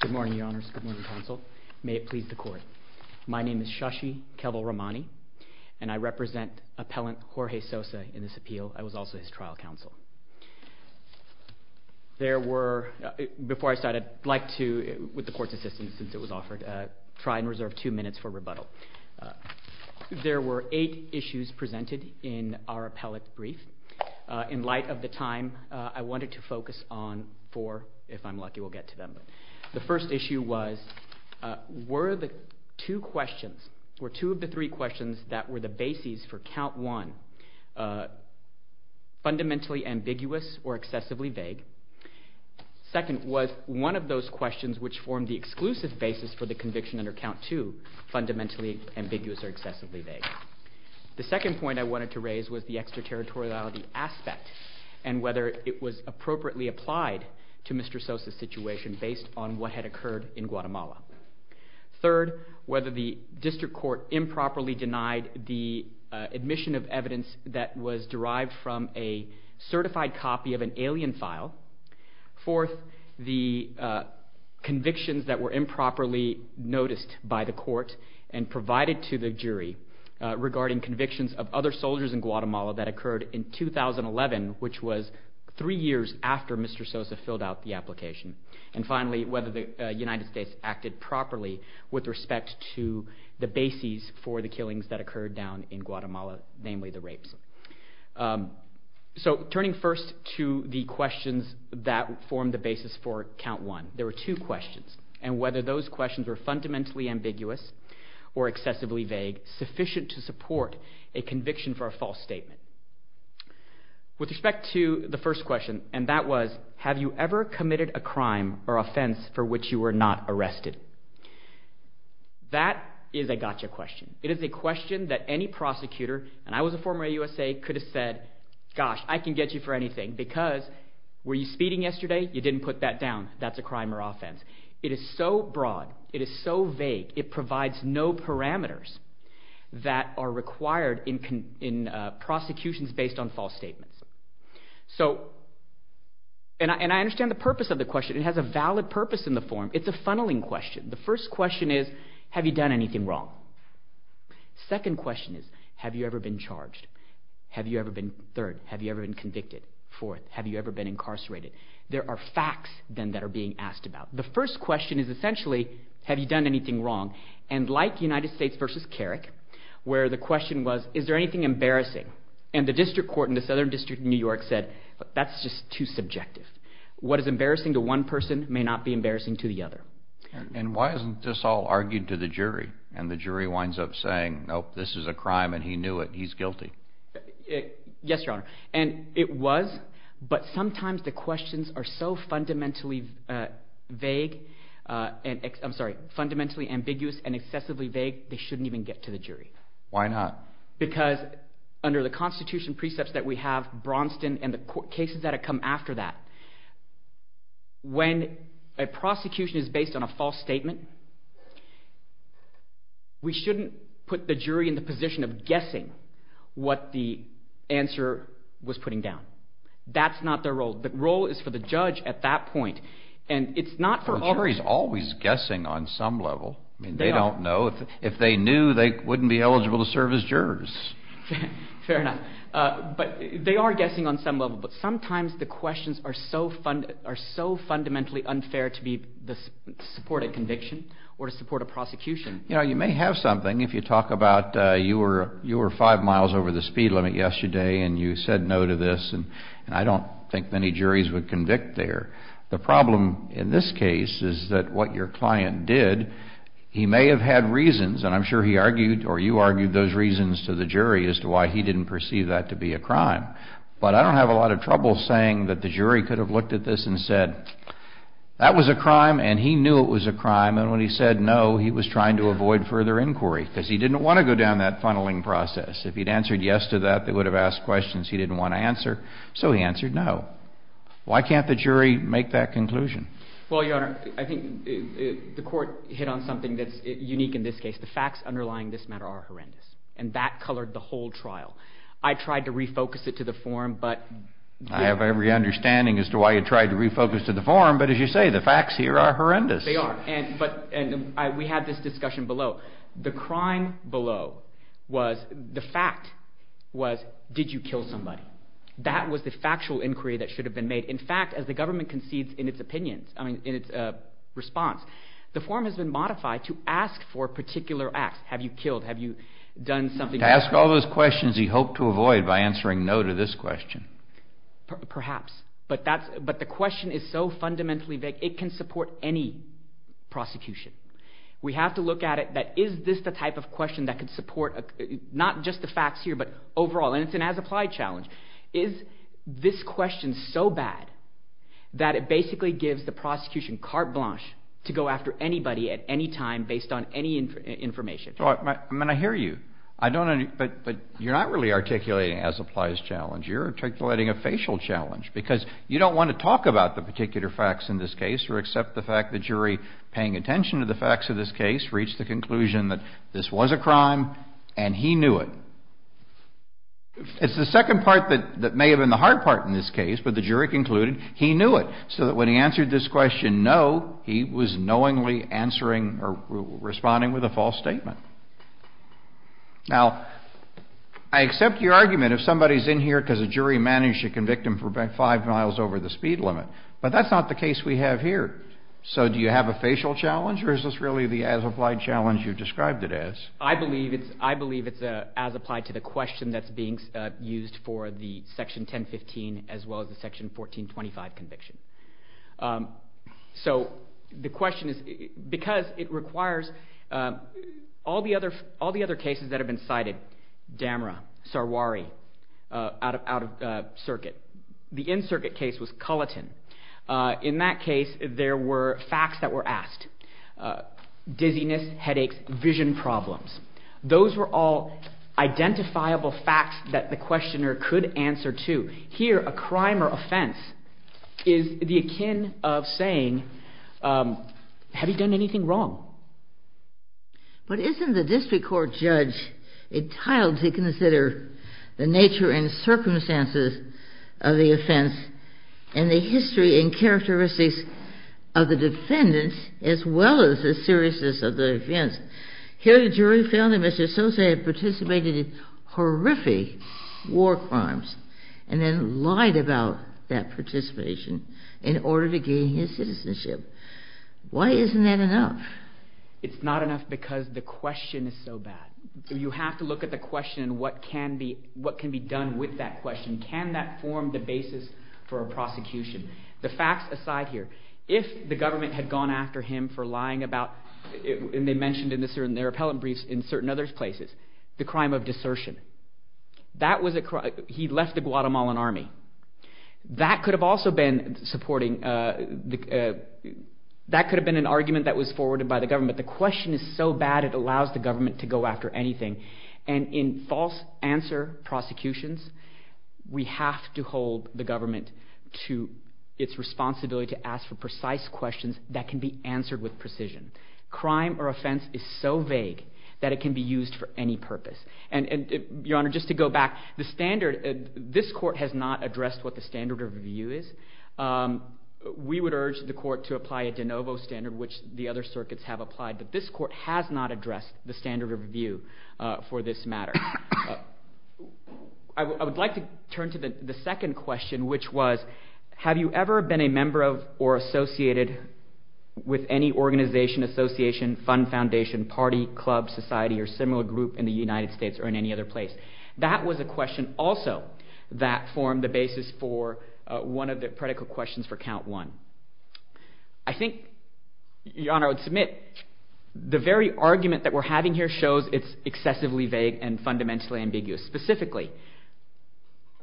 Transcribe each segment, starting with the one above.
Good morning, Your Honors. Good morning, Counsel. May it please the Court. My name is Shashi Kevalramani, and I represent Appellant Jorge Sosa in this appeal. I was also his trial counsel. Before I start, I'd like to, with the Court's assistance since it was offered, try and reserve two minutes for rebuttal. There were eight issues presented in our appellate brief. In light of the time, I wanted to focus on four, if I'm lucky we'll get to them. The first issue was, were the two questions, were two of the three questions that were the bases for Count 1 fundamentally ambiguous or excessively vague? Second was, one of those questions which formed the exclusive basis for the conviction under Count 2 fundamentally ambiguous or excessively vague was the territoriality aspect and whether it was appropriately applied to Mr. Sosa's situation based on what had occurred in Guatemala. Third, whether the District Court improperly denied the admission of evidence that was derived from a certified copy of an alien file. Fourth, the convictions that were improperly noticed by the Court and provided to the jury regarding convictions of other soldiers in Guatemala that occurred in 2011, which was three years after Mr. Sosa filled out the application. And finally, whether the United States acted properly with respect to the bases for the killings that occurred down in Guatemala, namely the rapes. So turning first to the questions that formed the basis for Count 1, there were two questions. And whether those questions were fundamentally ambiguous or excessively vague, sufficient to support a conviction for a false statement. With respect to the first question, and that was, have you ever committed a crime or offense for which you were not arrested? That is a gotcha question. It is a question that any prosecutor, and I was a former USA, could have said, gosh, I can get you for anything because were you speeding yesterday? You didn't put that down. That's a crime or offense. It is so broad. It is so vague. It provides no parameters that are required in prosecutions based on false statements. So, and I understand the purpose of the question. It has a valid purpose in the form. It's a funneling question. The first question is, have you done anything wrong? Second question is, have you ever been charged? Have you ever been, third, have you ever been convicted? Fourth, have you ever been incarcerated? There are facts then that are being asked about. The first question is essentially, have you done anything wrong? And like United States v. Carrick, where the question was, is there anything embarrassing? And the district court in the Southern District of New York said, that's just too subjective. What is embarrassing to one person may not be embarrassing to the other. And why isn't this all argued to the jury? And the jury winds up saying, nope, this is a crime and he knew it, he's guilty. Yes, Your Honor. And it was, but sometimes the questions are so fundamentally vague, I'm sorry, fundamentally ambiguous and excessively vague, they shouldn't even get to the jury. Why not? Because under the Constitution precepts that we have, Bronston and the cases that have come after that, when a prosecution is based on a false statement, we shouldn't put the what the answer was putting down. That's not their role. The role is for the judge at that point. And it's not for all... The jury's always guessing on some level. They are. I mean, they don't know. If they knew, they wouldn't be eligible to serve as jurors. Fair enough. But they are guessing on some level. But sometimes the questions are so fundamentally unfair to support a conviction or to support a prosecution. You know, you may have something, if you talk about you were five miles over the speed limit yesterday and you said no to this, and I don't think many juries would convict there. The problem in this case is that what your client did, he may have had reasons, and I'm sure he argued or you argued those reasons to the jury as to why he didn't perceive that to be a crime. But I don't have a lot of trouble saying that the jury could have looked at this and said, that was a crime and he knew it was a crime, and when he said no, he was trying to avoid further inquiry because he didn't want to go down that funneling process. If he'd answered yes to that, they would have asked questions he didn't want to answer, so he answered no. Why can't the jury make that conclusion? Well, Your Honor, I think the court hit on something that's unique in this case. The facts underlying this matter are horrendous, and that colored the whole trial. I tried to refocus it to the forum, but... I have every understanding as to why you tried to refocus to the forum, but as you say, the facts here are horrendous. They are, and we had this discussion below. The crime below was, the fact was, did you kill somebody? That was the factual inquiry that should have been made. In fact, as the government concedes in its opinions, I mean, in its response, the forum has been modified to ask for particular acts. Have you killed, have you done something... To ask all those questions he hoped to avoid by answering no to this question. Perhaps, but the question is so fundamentally vague, it can support any prosecution. We have to look at it, that is this the type of question that could support, not just the facts here, but overall, and it's an as-applied challenge. Is this question so bad that it basically gives the prosecution carte blanche to go after anybody at any time based on any information? I mean, I hear you, but you're not really articulating an as-applies challenge. You're articulating a facial challenge because you don't want to talk about the particular facts in this case or accept the fact the jury paying attention to the facts of this case reached the conclusion that this was a crime and he knew it. It's the second part that may have been the hard part in this case, but the jury concluded he knew it, so that when he answered this question no, he was knowingly answering or responding with a false statement. Now, I accept your argument if somebody's in here because a jury managed to convict him for five miles over the speed limit, but that's not the case we have here. So do you have a facial challenge or is this really the as-applied challenge you described it as? I believe it's as applied to the question that's being used for the section 1015 as all the other cases that have been cited, Damra, Sarwari, out of circuit. The in-circuit case was Culleton. In that case, there were facts that were asked. Dizziness, headaches, vision problems. Those were all identifiable facts that the questioner could answer to. Here, a crime or offense is the akin of saying, have you done anything wrong? But isn't the district court judge entitled to consider the nature and circumstances of the offense and the history and characteristics of the defendants as well as the seriousness of the offense? Here, the jury found that Mr. Sosa had participated in horrific war crimes and then lied about that participation in order to gain his citizenship. Why isn't that enough? It's not enough because the question is so bad. You have to look at the question and what can be done with that question. Can that form the basis for a prosecution? The facts aside here, if the government had gone after him for lying about, and they mentioned in their appellate briefs in certain other places, the crime of desertion. He left the Guatemalan army. That could have been an argument that was forwarded by the government. The question is so bad it allows the government to go after anything. In false answer prosecutions, we have to hold the government to its responsibility to ask for precise questions that can be answered with precision. Crime or offense is so vague that it can be used for any purpose. Your Honor, just to go back, the standard, this court has not addressed what the standard of review is. We would urge the court to apply a de novo standard which the other circuits have applied, but this court has not addressed the standard of review for this matter. I would like to turn to the second question which was, have you ever been a member of or associated with any organization, association, fund, foundation, party, club, society or similar group in the United States or in any other place? That was a question also that formed the basis for one of the predicate questions for count one. I think, Your Honor, I would submit the very argument that we're having here shows it's excessively vague and fundamentally ambiguous. Specifically,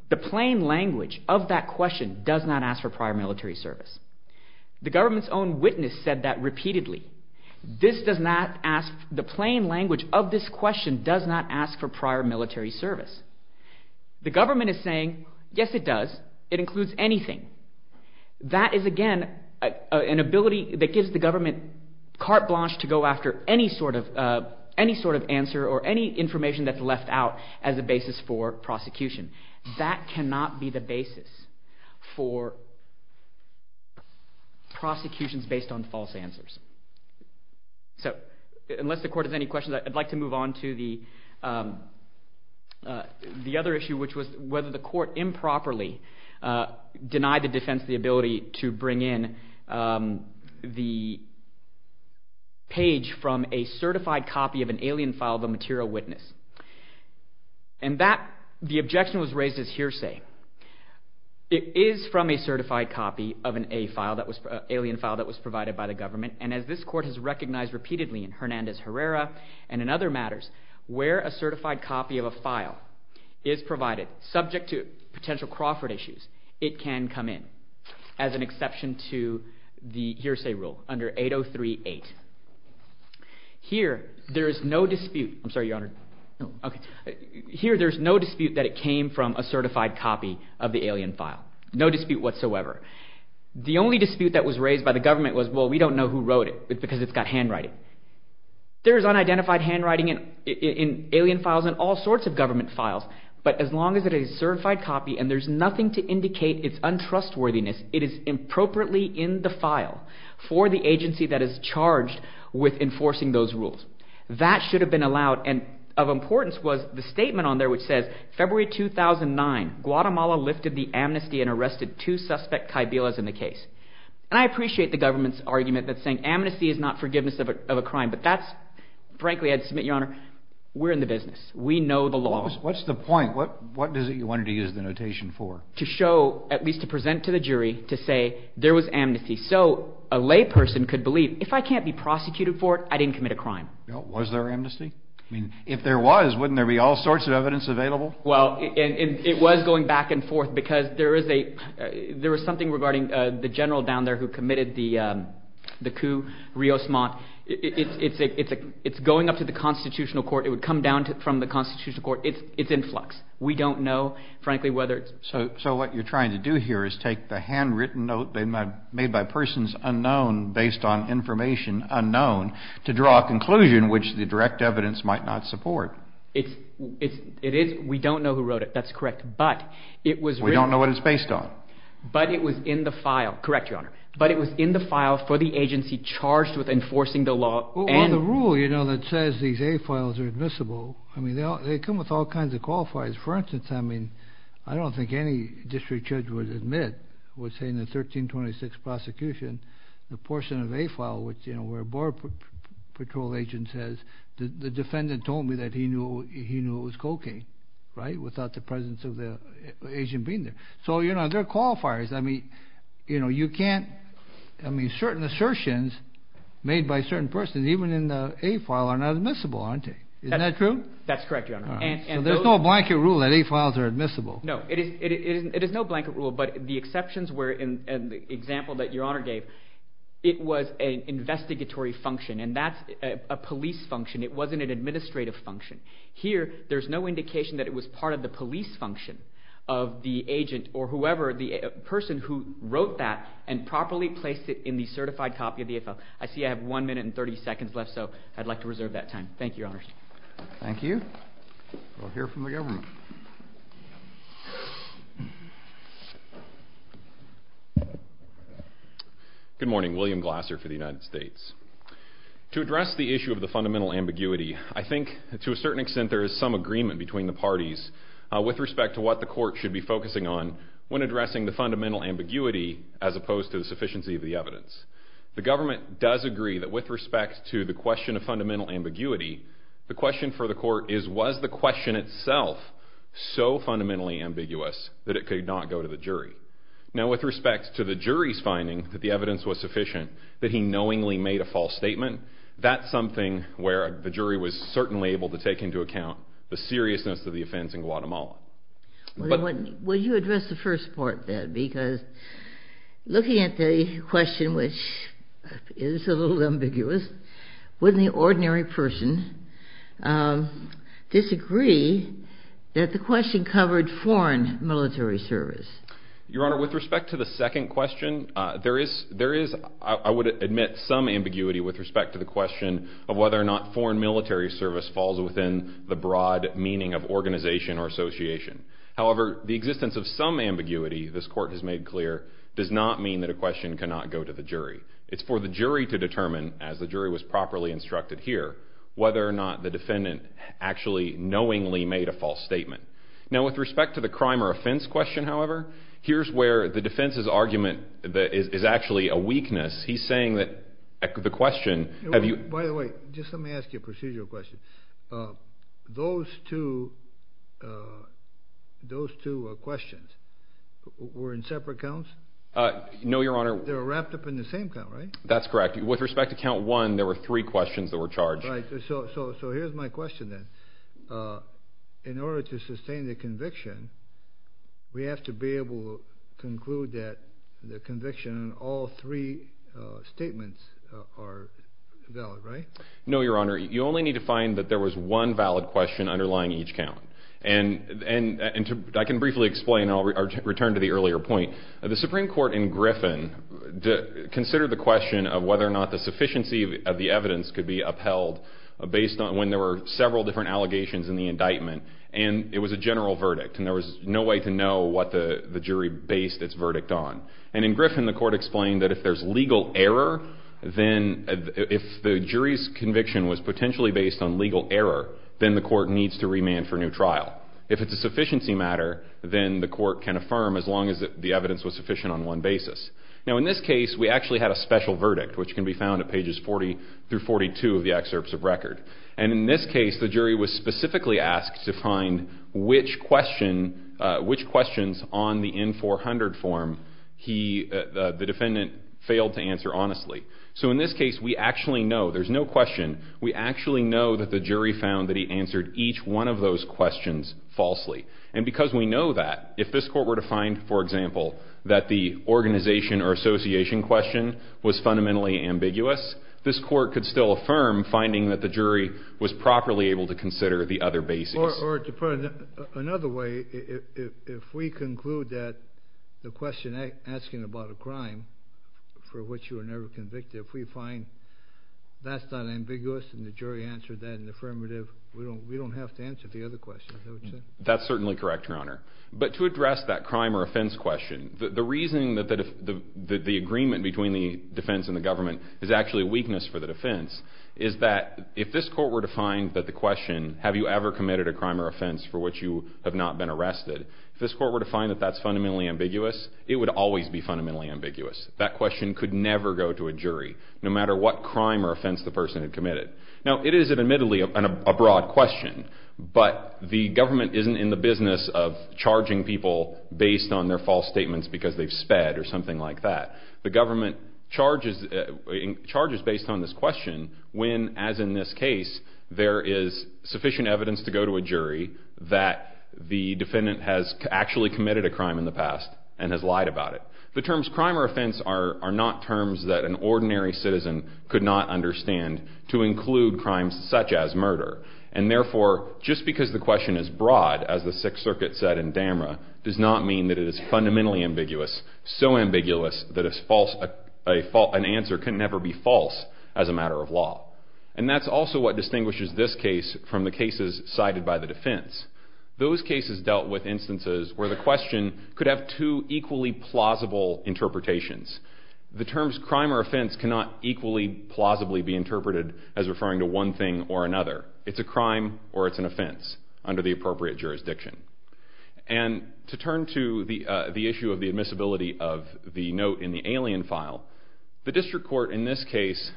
the plain language of that question does not ask for prior military service. The government's own witness said that repeatedly. This does not ask, the plain language of this question does not ask for prior military service. The government is saying, yes it does, it includes anything. That is, again, an ability that gives the government carte blanche to go after any sort of answer or any information that's left out as a basis for prosecution. That cannot be the basis for prosecutions based on false answers. So, unless the court has any questions, I'd like to move on to the other issue which was whether the court improperly denied the defense the ability to bring in the page from a certified copy of an alien file of a material witness. And that, the objection was raised as hearsay. It is from a certified copy of an alien file that was provided by the government, and as this court has recognized repeatedly in Hernandez-Herrera and in other matters, where a certified copy of a file is provided, subject to potential Crawford issues, it can come in, as an exception to the hearsay rule under 803-8. Here, there is no dispute that it came from a certified copy of the alien file. No dispute whatsoever. The only dispute that was raised by the government was, well, we don't know who wrote it because it's got handwriting. There is unidentified handwriting in alien files and all sorts of government files, but as long as it is a certified copy and there's nothing to indicate its untrustworthiness, it is improperly in the file for the agency that is charged with enforcing those rules. That should have been allowed, and of importance was the statement on there which says, February 2009, Guatemala lifted the amnesty and arrested two suspect caibillas in the case. And I appreciate the government's argument that saying amnesty is not forgiveness of a crime, but that's, frankly, I'd submit, Your Honor, we're in the business. We know the law. What's the point? What is it you wanted to use the notation for? To show, at least to present to the jury, to say there was amnesty, so a layperson could believe, if I can't be prosecuted for it, I didn't commit a crime. Was there amnesty? I mean, if there was, wouldn't there be all sorts of evidence available? Well, it was going back and forth, because there was something regarding the general down there who committed the coup, Rios Montt. It's going up to the constitutional court. It would come down from the constitutional court. It's in flux. We don't know, frankly, whether it's... So what you're trying to do here is take the handwritten note made by persons unknown, based on information unknown, to draw a conclusion which the direct evidence might not support. It is... We don't know who wrote it. That's correct. But it was... We don't know what it's based on. But it was in the file. Correct, Your Honor. But it was in the file for the agency charged with enforcing the law and... Well, the rule, you know, that says these A files are admissible, I mean, they come with all kinds of qualifiers. For instance, I mean, I don't think any district judge would admit, would say in the 1326 prosecution, the portion of A file which, you know, where your patrol agent says, the defendant told me that he knew it was cocaine, right, without the presence of the agent being there. So, you know, there are qualifiers. I mean, you know, you can't... I mean, certain assertions made by certain persons, even in the A file, are not admissible, aren't they? Isn't that true? That's correct, Your Honor. So there's no blanket rule that A files are admissible. No. It is no blanket rule, but the exceptions were in the example that Your Honor gave, it was an investigatory function, and that's a police function. It wasn't an administrative function. Here, there's no indication that it was part of the police function of the agent or whoever, the person who wrote that and properly placed it in the certified copy of the A file. I see I have one minute and 30 seconds left, so I'd like to reserve that time. Thank you, Your Honor. Thank you. We'll hear from the government. Good morning. William Glasser for the United States. To address the issue of the fundamental ambiguity, I think to a certain extent there is some agreement between the parties with respect to what the court should be focusing on when addressing the fundamental ambiguity as opposed to the sufficiency of the evidence. The government does agree that with respect to the question of fundamental ambiguity, the question for the court is, was the question itself so fundamentally ambiguous that it could not go to the jury? Now, with respect to the jury's finding that the evidence was sufficient, that he knowingly made a false statement, that's something where the jury was certainly able to take into account the seriousness of the offense in Guatemala. Will you address the first part of that? Because looking at the question, which is a little ambiguous, wouldn't the ordinary person disagree that the question covered foreign military service? Your Honor, with respect to the second question, there is, I would admit, some ambiguity with respect to the question of whether or not foreign military service falls within the broad meaning of organization or association. However, the existence of some ambiguity, this court has made clear, does not mean that a question cannot go to the jury. It's for the jury to determine, as the jury was properly instructed here, whether or not the defendant actually knowingly made a false statement. Now, with respect to the crime or offense question, however, here's where the defense's argument is actually a weakness. He's saying that the question... By the way, just let me ask you a procedural question. Those two questions were in separate counts? No, Your Honor. They were wrapped up in the same count, right? That's correct. With respect to count one, there were three questions that were charged. Right. So here's my question, then. In order to sustain the conviction, we have to be able to conclude that the conviction in all three statements are valid, right? No, Your Honor. You only need to find that there was one valid question underlying each count. And I can briefly explain, and I'll return to the earlier point. The Supreme Court in Griffin considered the question of whether or not the sufficiency of the evidence could be upheld based on when there were several different allegations in the indictment. And it was a general verdict, and there was no way to know what the jury based its verdict on. And in Griffin, the court explained that if there's legal error, then if the jury's conviction was potentially based on legal error, then the court needs to remand for new trial. If it's a sufficiency matter, then the court can affirm, as long as the evidence was sufficient on one basis. Now, in this case, we actually had a special verdict, which can be found at pages 40 through 42 of the excerpts of record. And in this case, the jury was specifically asked to find which questions on the N-400 form the defendant failed to answer honestly. So in this case, we actually know. There's no question. We actually know that the jury found that he answered each one of those questions falsely. And because we know that, if this the organization or association question was fundamentally ambiguous, this court could still affirm finding that the jury was properly able to consider the other basis. Or to put it another way, if we conclude that the question asking about a crime for which you were never convicted, if we find that's not ambiguous and the jury answered that in the affirmative, we don't have to answer the other questions. That's certainly correct, Your Honor. But to address that crime or offense question, the reason that the agreement between the defense and the government is actually a weakness for the defense is that if this court were to find that the question, have you ever committed a crime or offense for which you have not been arrested, if this court were to find that that's fundamentally ambiguous, it would always be fundamentally ambiguous. That question could never go to a jury, no matter what crime or offense the person had committed. Now, it is admittedly a broad question, but the government isn't in the business of charging people based on their false statements because they've sped or something like that. The government charges based on this question when, as in this case, there is sufficient evidence to go to a jury that the defendant has actually committed a crime in the past and has lied about it. The terms crime or offense are not terms that an ordinary citizen could not understand to include crimes such as murder. And therefore, just because the question is broad, as the Sixth Circuit said in Damra, does not mean that it is fundamentally ambiguous, so ambiguous that an answer can never be false as a matter of law. And that's also what distinguishes this case from the cases cited by the defense. Those cases dealt with instances where the question could have two equally plausible interpretations. The terms crime or offense cannot equally plausibly be interpreted as referring to one thing or another. It's a crime or it's an offense under the appropriate jurisdiction. And to turn to the issue of the admissibility of the note in the alien file, the district court in this case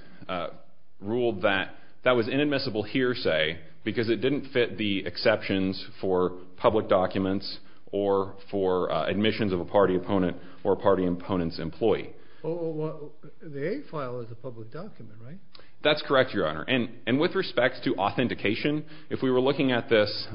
ruled that that was inadmissible hearsay because it didn't fit the exceptions for public documents or for admissions of a party opponent or a party opponent's employee. The A file is a public document, right? That's correct, Your Honor. And with respect to authentication, if we were looking at this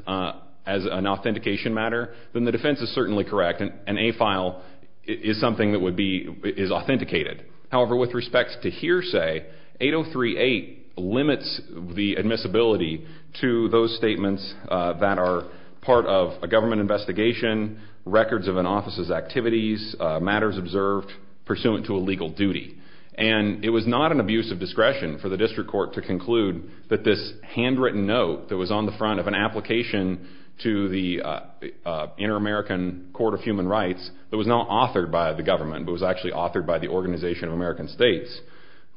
as an authentication matter, then the defense is certainly correct. An A file is something that would be authenticated. However, with respect to hearsay, 8038 limits the admissibility to those statements that are part of a government investigation, records of an office's activities, matters observed pursuant to a legal duty. And it was not an abuse of discretion for the district court to conclude that this handwritten note that was on the front of an application to the Inter-American Court of Human Rights that was not authored by the government but was actually authored by the Organization of American States,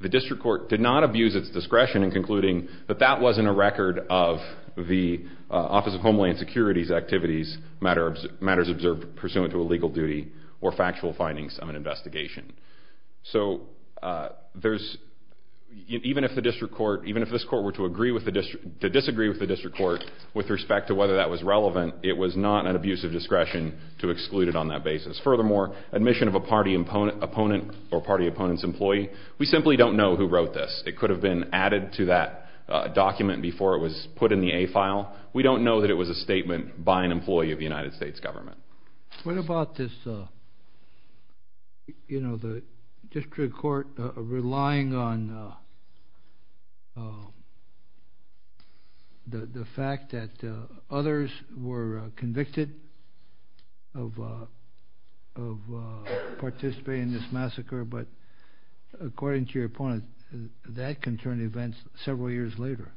the district court did not abuse its discretion in concluding that that wasn't a record of the Office of Homeland Security's activities, matters observed pursuant to a legal duty or factual findings of an investigation. So even if this court were to disagree with the district court with respect to whether that was relevant, it was not an abuse of discretion to exclude it on that basis. Furthermore, admission of a party opponent or party opponent's employee, we simply don't know who wrote this. It could have been added to that document before it was put in the A file. We don't know that it was a statement by an employee of the United States government. What about this, you know, the district court relying on the fact that others were convicted of participating in this massacre but according to your point, that can turn events several years later.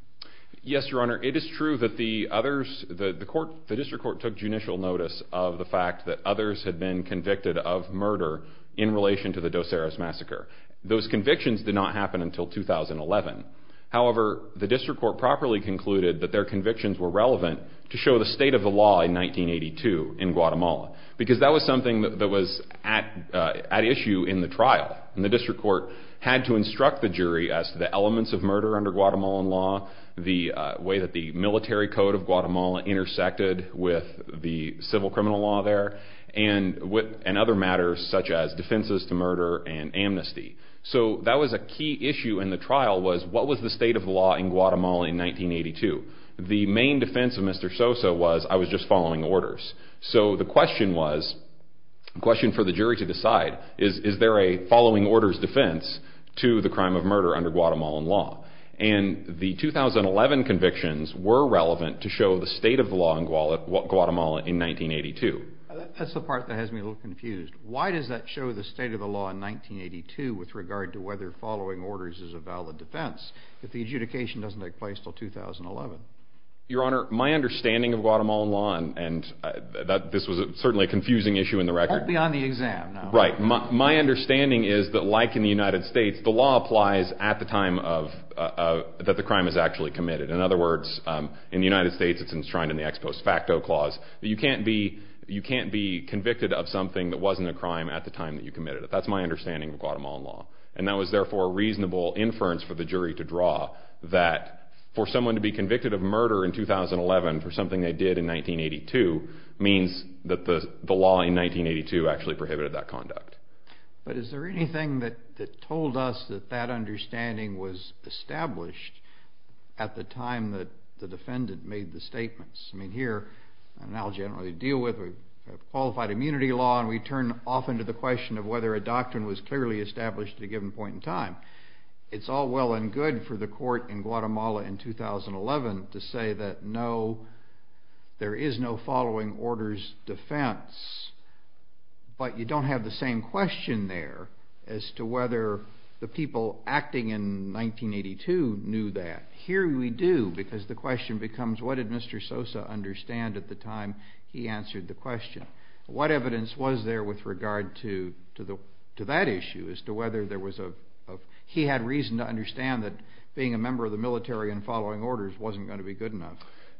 Yes, Your Honor. It is true that the others, the court, the district court took judicial notice of the fact that others had been convicted of murder in relation to the Dos Eras Massacre. Those convictions did not happen until 2011. However, the district court properly concluded that their convictions were relevant to show the state of the law in 1982 in Guatemala because that was something that was at issue in the trial and the district court had to instruct the jury as to the elements of murder under Guatemalan law, the way that the military code of Guatemala intersected with the civil criminal law there and other matters such as defenses to murder and amnesty. So that was a key issue in the trial was what was the state of the law in Guatemala in 1982. The main defense of Mr. Sosa was I was just following orders. So the question was, the question for the jury to decide is there a following orders defense to the crime of murder under Guatemalan law? And the 2011 convictions were relevant to show the state of the law in Guatemala in 1982. That's the part that has me a little confused. Why does that show the state of the law in 1982 with regard to whether following orders is a valid defense if the adjudication doesn't take place until 2011? Your Honor, my understanding of Guatemalan law, and this was certainly a confusing issue in the record. Help me on the exam now. Right. My understanding is that like in the United States, the law applies at the time of that the crime is actually committed. In other words, in the United States it's enshrined in the Ex Post Facto Clause. You can't be convicted of something that wasn't a crime at the time that you committed it. That's my understanding of Guatemalan law. And that was therefore a reasonable inference for the jury to draw that for someone to be convicted of murder in 2011 for something they did in 1982 means that the law in 1982 actually prohibited that conduct. But is there anything that told us that that understanding was established at the time that the defendant made the statements? I mean here, an analogy I don't really deal with, we have qualified immunity law and we turn off into the question of whether a doctrine was clearly established at a given point in time. It's all well and good for the court in Guatemala in 2011 to say that no, there is no following orders defense, but you don't have the same question there as to whether the people acting in 1982 knew that. Here we do because the question becomes what did Mr. Sosa understand at the time he answered the question. What evidence was there with regard to that issue as to whether there was a, he had reason to understand that being a member of the military and following orders wasn't going to be good enough.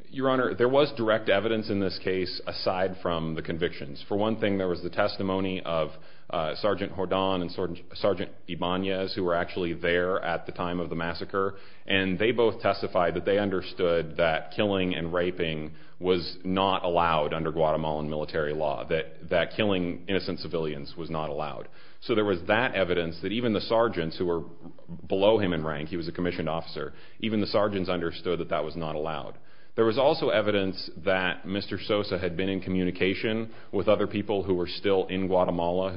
Your Honor, there was direct evidence in this case aside from the convictions. For one thing, there was the testimony of Sgt. Jordan and Sgt. Ibanez who were actually there at the time of the massacre, and they both testified that they understood that killing and raping was not allowed under Guatemalan military law, that killing innocent civilians was not allowed. So there was that evidence that even the sergeants who were below him in rank, he was a commissioned officer, even the sergeants understood that that was not allowed. There was also evidence that Mr. Sosa had been in communication with other people who were still in Guatemala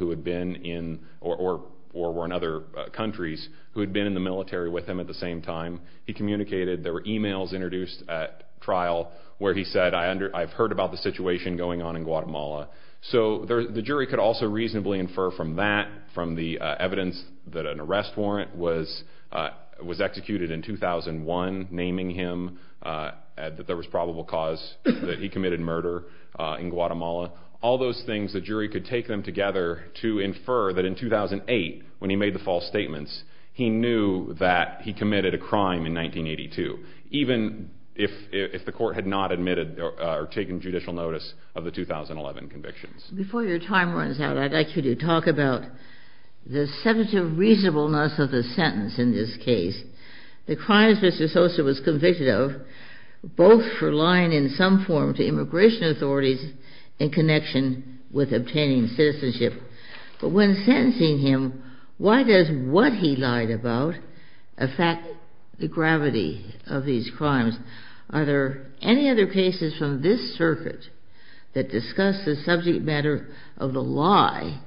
or were in other countries who had been in the military with him at the same time. He communicated. There were e-mails introduced at trial where he said, I've heard about the situation going on in Guatemala. So the jury could also reasonably infer from that, there was evidence that an arrest warrant was executed in 2001, naming him, that there was probable cause that he committed murder in Guatemala. All those things, the jury could take them together to infer that in 2008, when he made the false statements, he knew that he committed a crime in 1982, even if the court had not admitted or taken judicial notice of the 2011 convictions. Before your time runs out, I'd like you to talk about the substantive reasonableness of the sentence in this case, the crimes Mr. Sosa was convicted of, both for lying in some form to immigration authorities in connection with obtaining citizenship. But when sentencing him, why does what he lied about affect the gravity of these crimes? Are there any other cases from this circuit that discuss the subject matter of the lie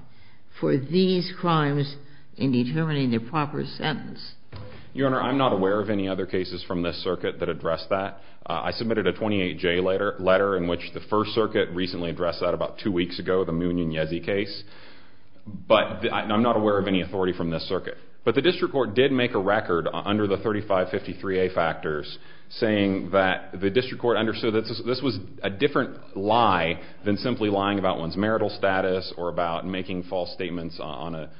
for these crimes in determining the proper sentence? Your Honor, I'm not aware of any other cases from this circuit that address that. I submitted a 28-J letter in which the First Circuit recently addressed that about two weeks ago, the Munoz-Yezi case, but I'm not aware of any authority from this circuit. But the district court did make a record under the 3553A factors, saying that the district court understood that this was a different lie than simply lying about one's marital status or about making false statements about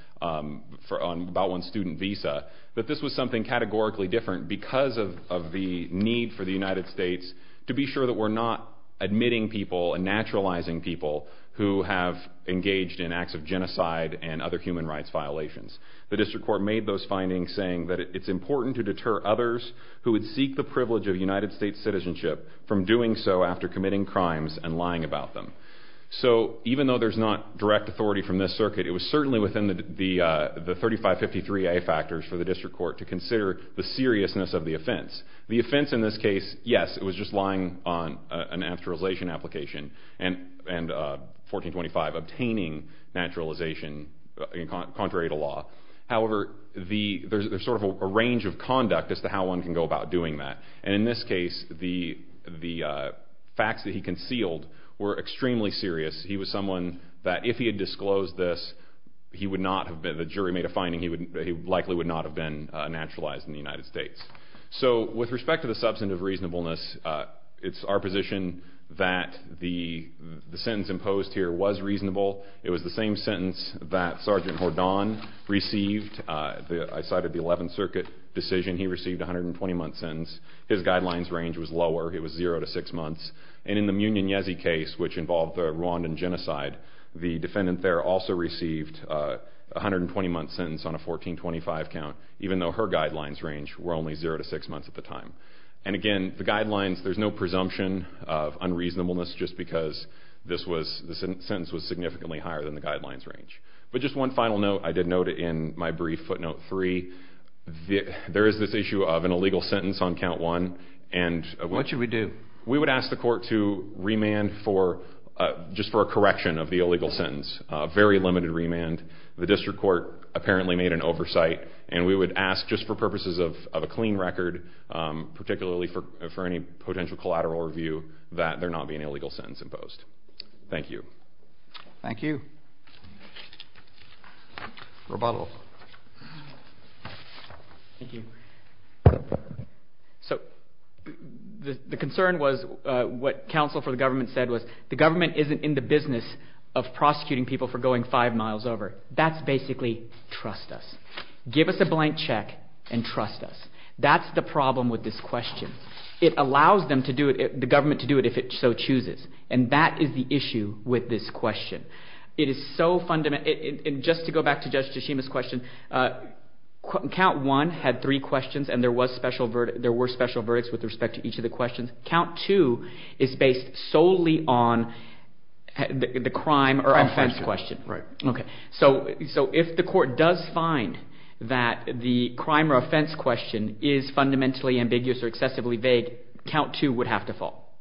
one's student visa, that this was something categorically different because of the need for the United States to be sure that we're not admitting people and naturalizing people who have engaged in acts of genocide and other human rights violations. The district court made those findings, saying that it's important to deter others who would seek the privilege of United States citizenship from doing so after committing crimes and lying about them. So even though there's not direct authority from this circuit, it was certainly within the 3553A factors for the district court to consider the seriousness of the offense. The offense in this case, yes, it was just lying on a naturalization application and 1425 obtaining naturalization contrary to law. However, there's sort of a range of conduct as to how one can go about doing that. In this case, the facts that he concealed were extremely serious. He was someone that if he had disclosed this, the jury made a finding that he likely would not have been naturalized in the United States. So with respect to the substantive reasonableness, it's our position that the sentence imposed here was reasonable. It was the same sentence that Sergeant Hordan received. I cited the 11th Circuit decision. He received a 120-month sentence. His guidelines range was lower. It was zero to six months. And in the Mugnonezzi case, which involved the Rwandan genocide, the defendant there also received a 120-month sentence on a 1425 count, even though her guidelines range were only zero to six months at the time. And again, the guidelines, there's no presumption of unreasonableness just because the sentence was significantly higher than the guidelines range. But just one final note, I did note it in my brief footnote three. There is this issue of an illegal sentence on count one. What should we do? We would ask the court to remand just for a correction of the illegal sentence, a very limited remand. The district court apparently made an oversight, and we would ask just for purposes of a clean record, particularly for any potential collateral review, that there not be an illegal sentence imposed. Thank you. Thank you. Rebuttal. Thank you. So the concern was what counsel for the government said was the government isn't in the business of prosecuting people for going five miles over. That's basically trust us. Give us a blank check and trust us. That's the problem with this question. It allows the government to do it if it so chooses, and that is the issue with this question. It is so fundamental. Just to go back to Judge Tashima's question, count one had three questions, and there were special verdicts with respect to each of the questions. Count two is based solely on the crime or offense question. Okay. So if the court does find that the crime or offense question is fundamentally ambiguous or excessively vague, count two would have to fall.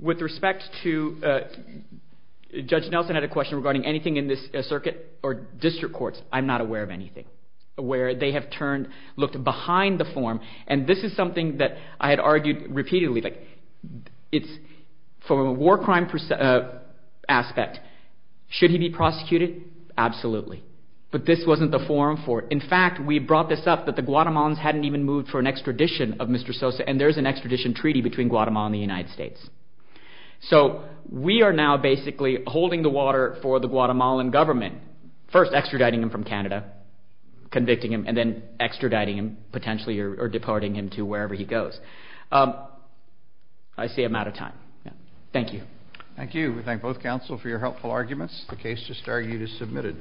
With respect to Judge Nelson had a question regarding anything in this circuit or district courts, I'm not aware of anything, where they have looked behind the form, and this is something that I had argued repeatedly. It's from a war crime aspect. Should he be prosecuted? Absolutely. But this wasn't the forum for it. In fact, we brought this up that the Guatemalans hadn't even moved for an extradition of Mr. Sosa, and there's an extradition treaty between Guatemala and the United States. So we are now basically holding the water for the Guatemalan government, first extraditing him from Canada, convicting him, and then extraditing him potentially or departing him to wherever he goes. I see I'm out of time. Thank you. Thank you. We thank both counsel for your helpful arguments. The case just argued is submitted.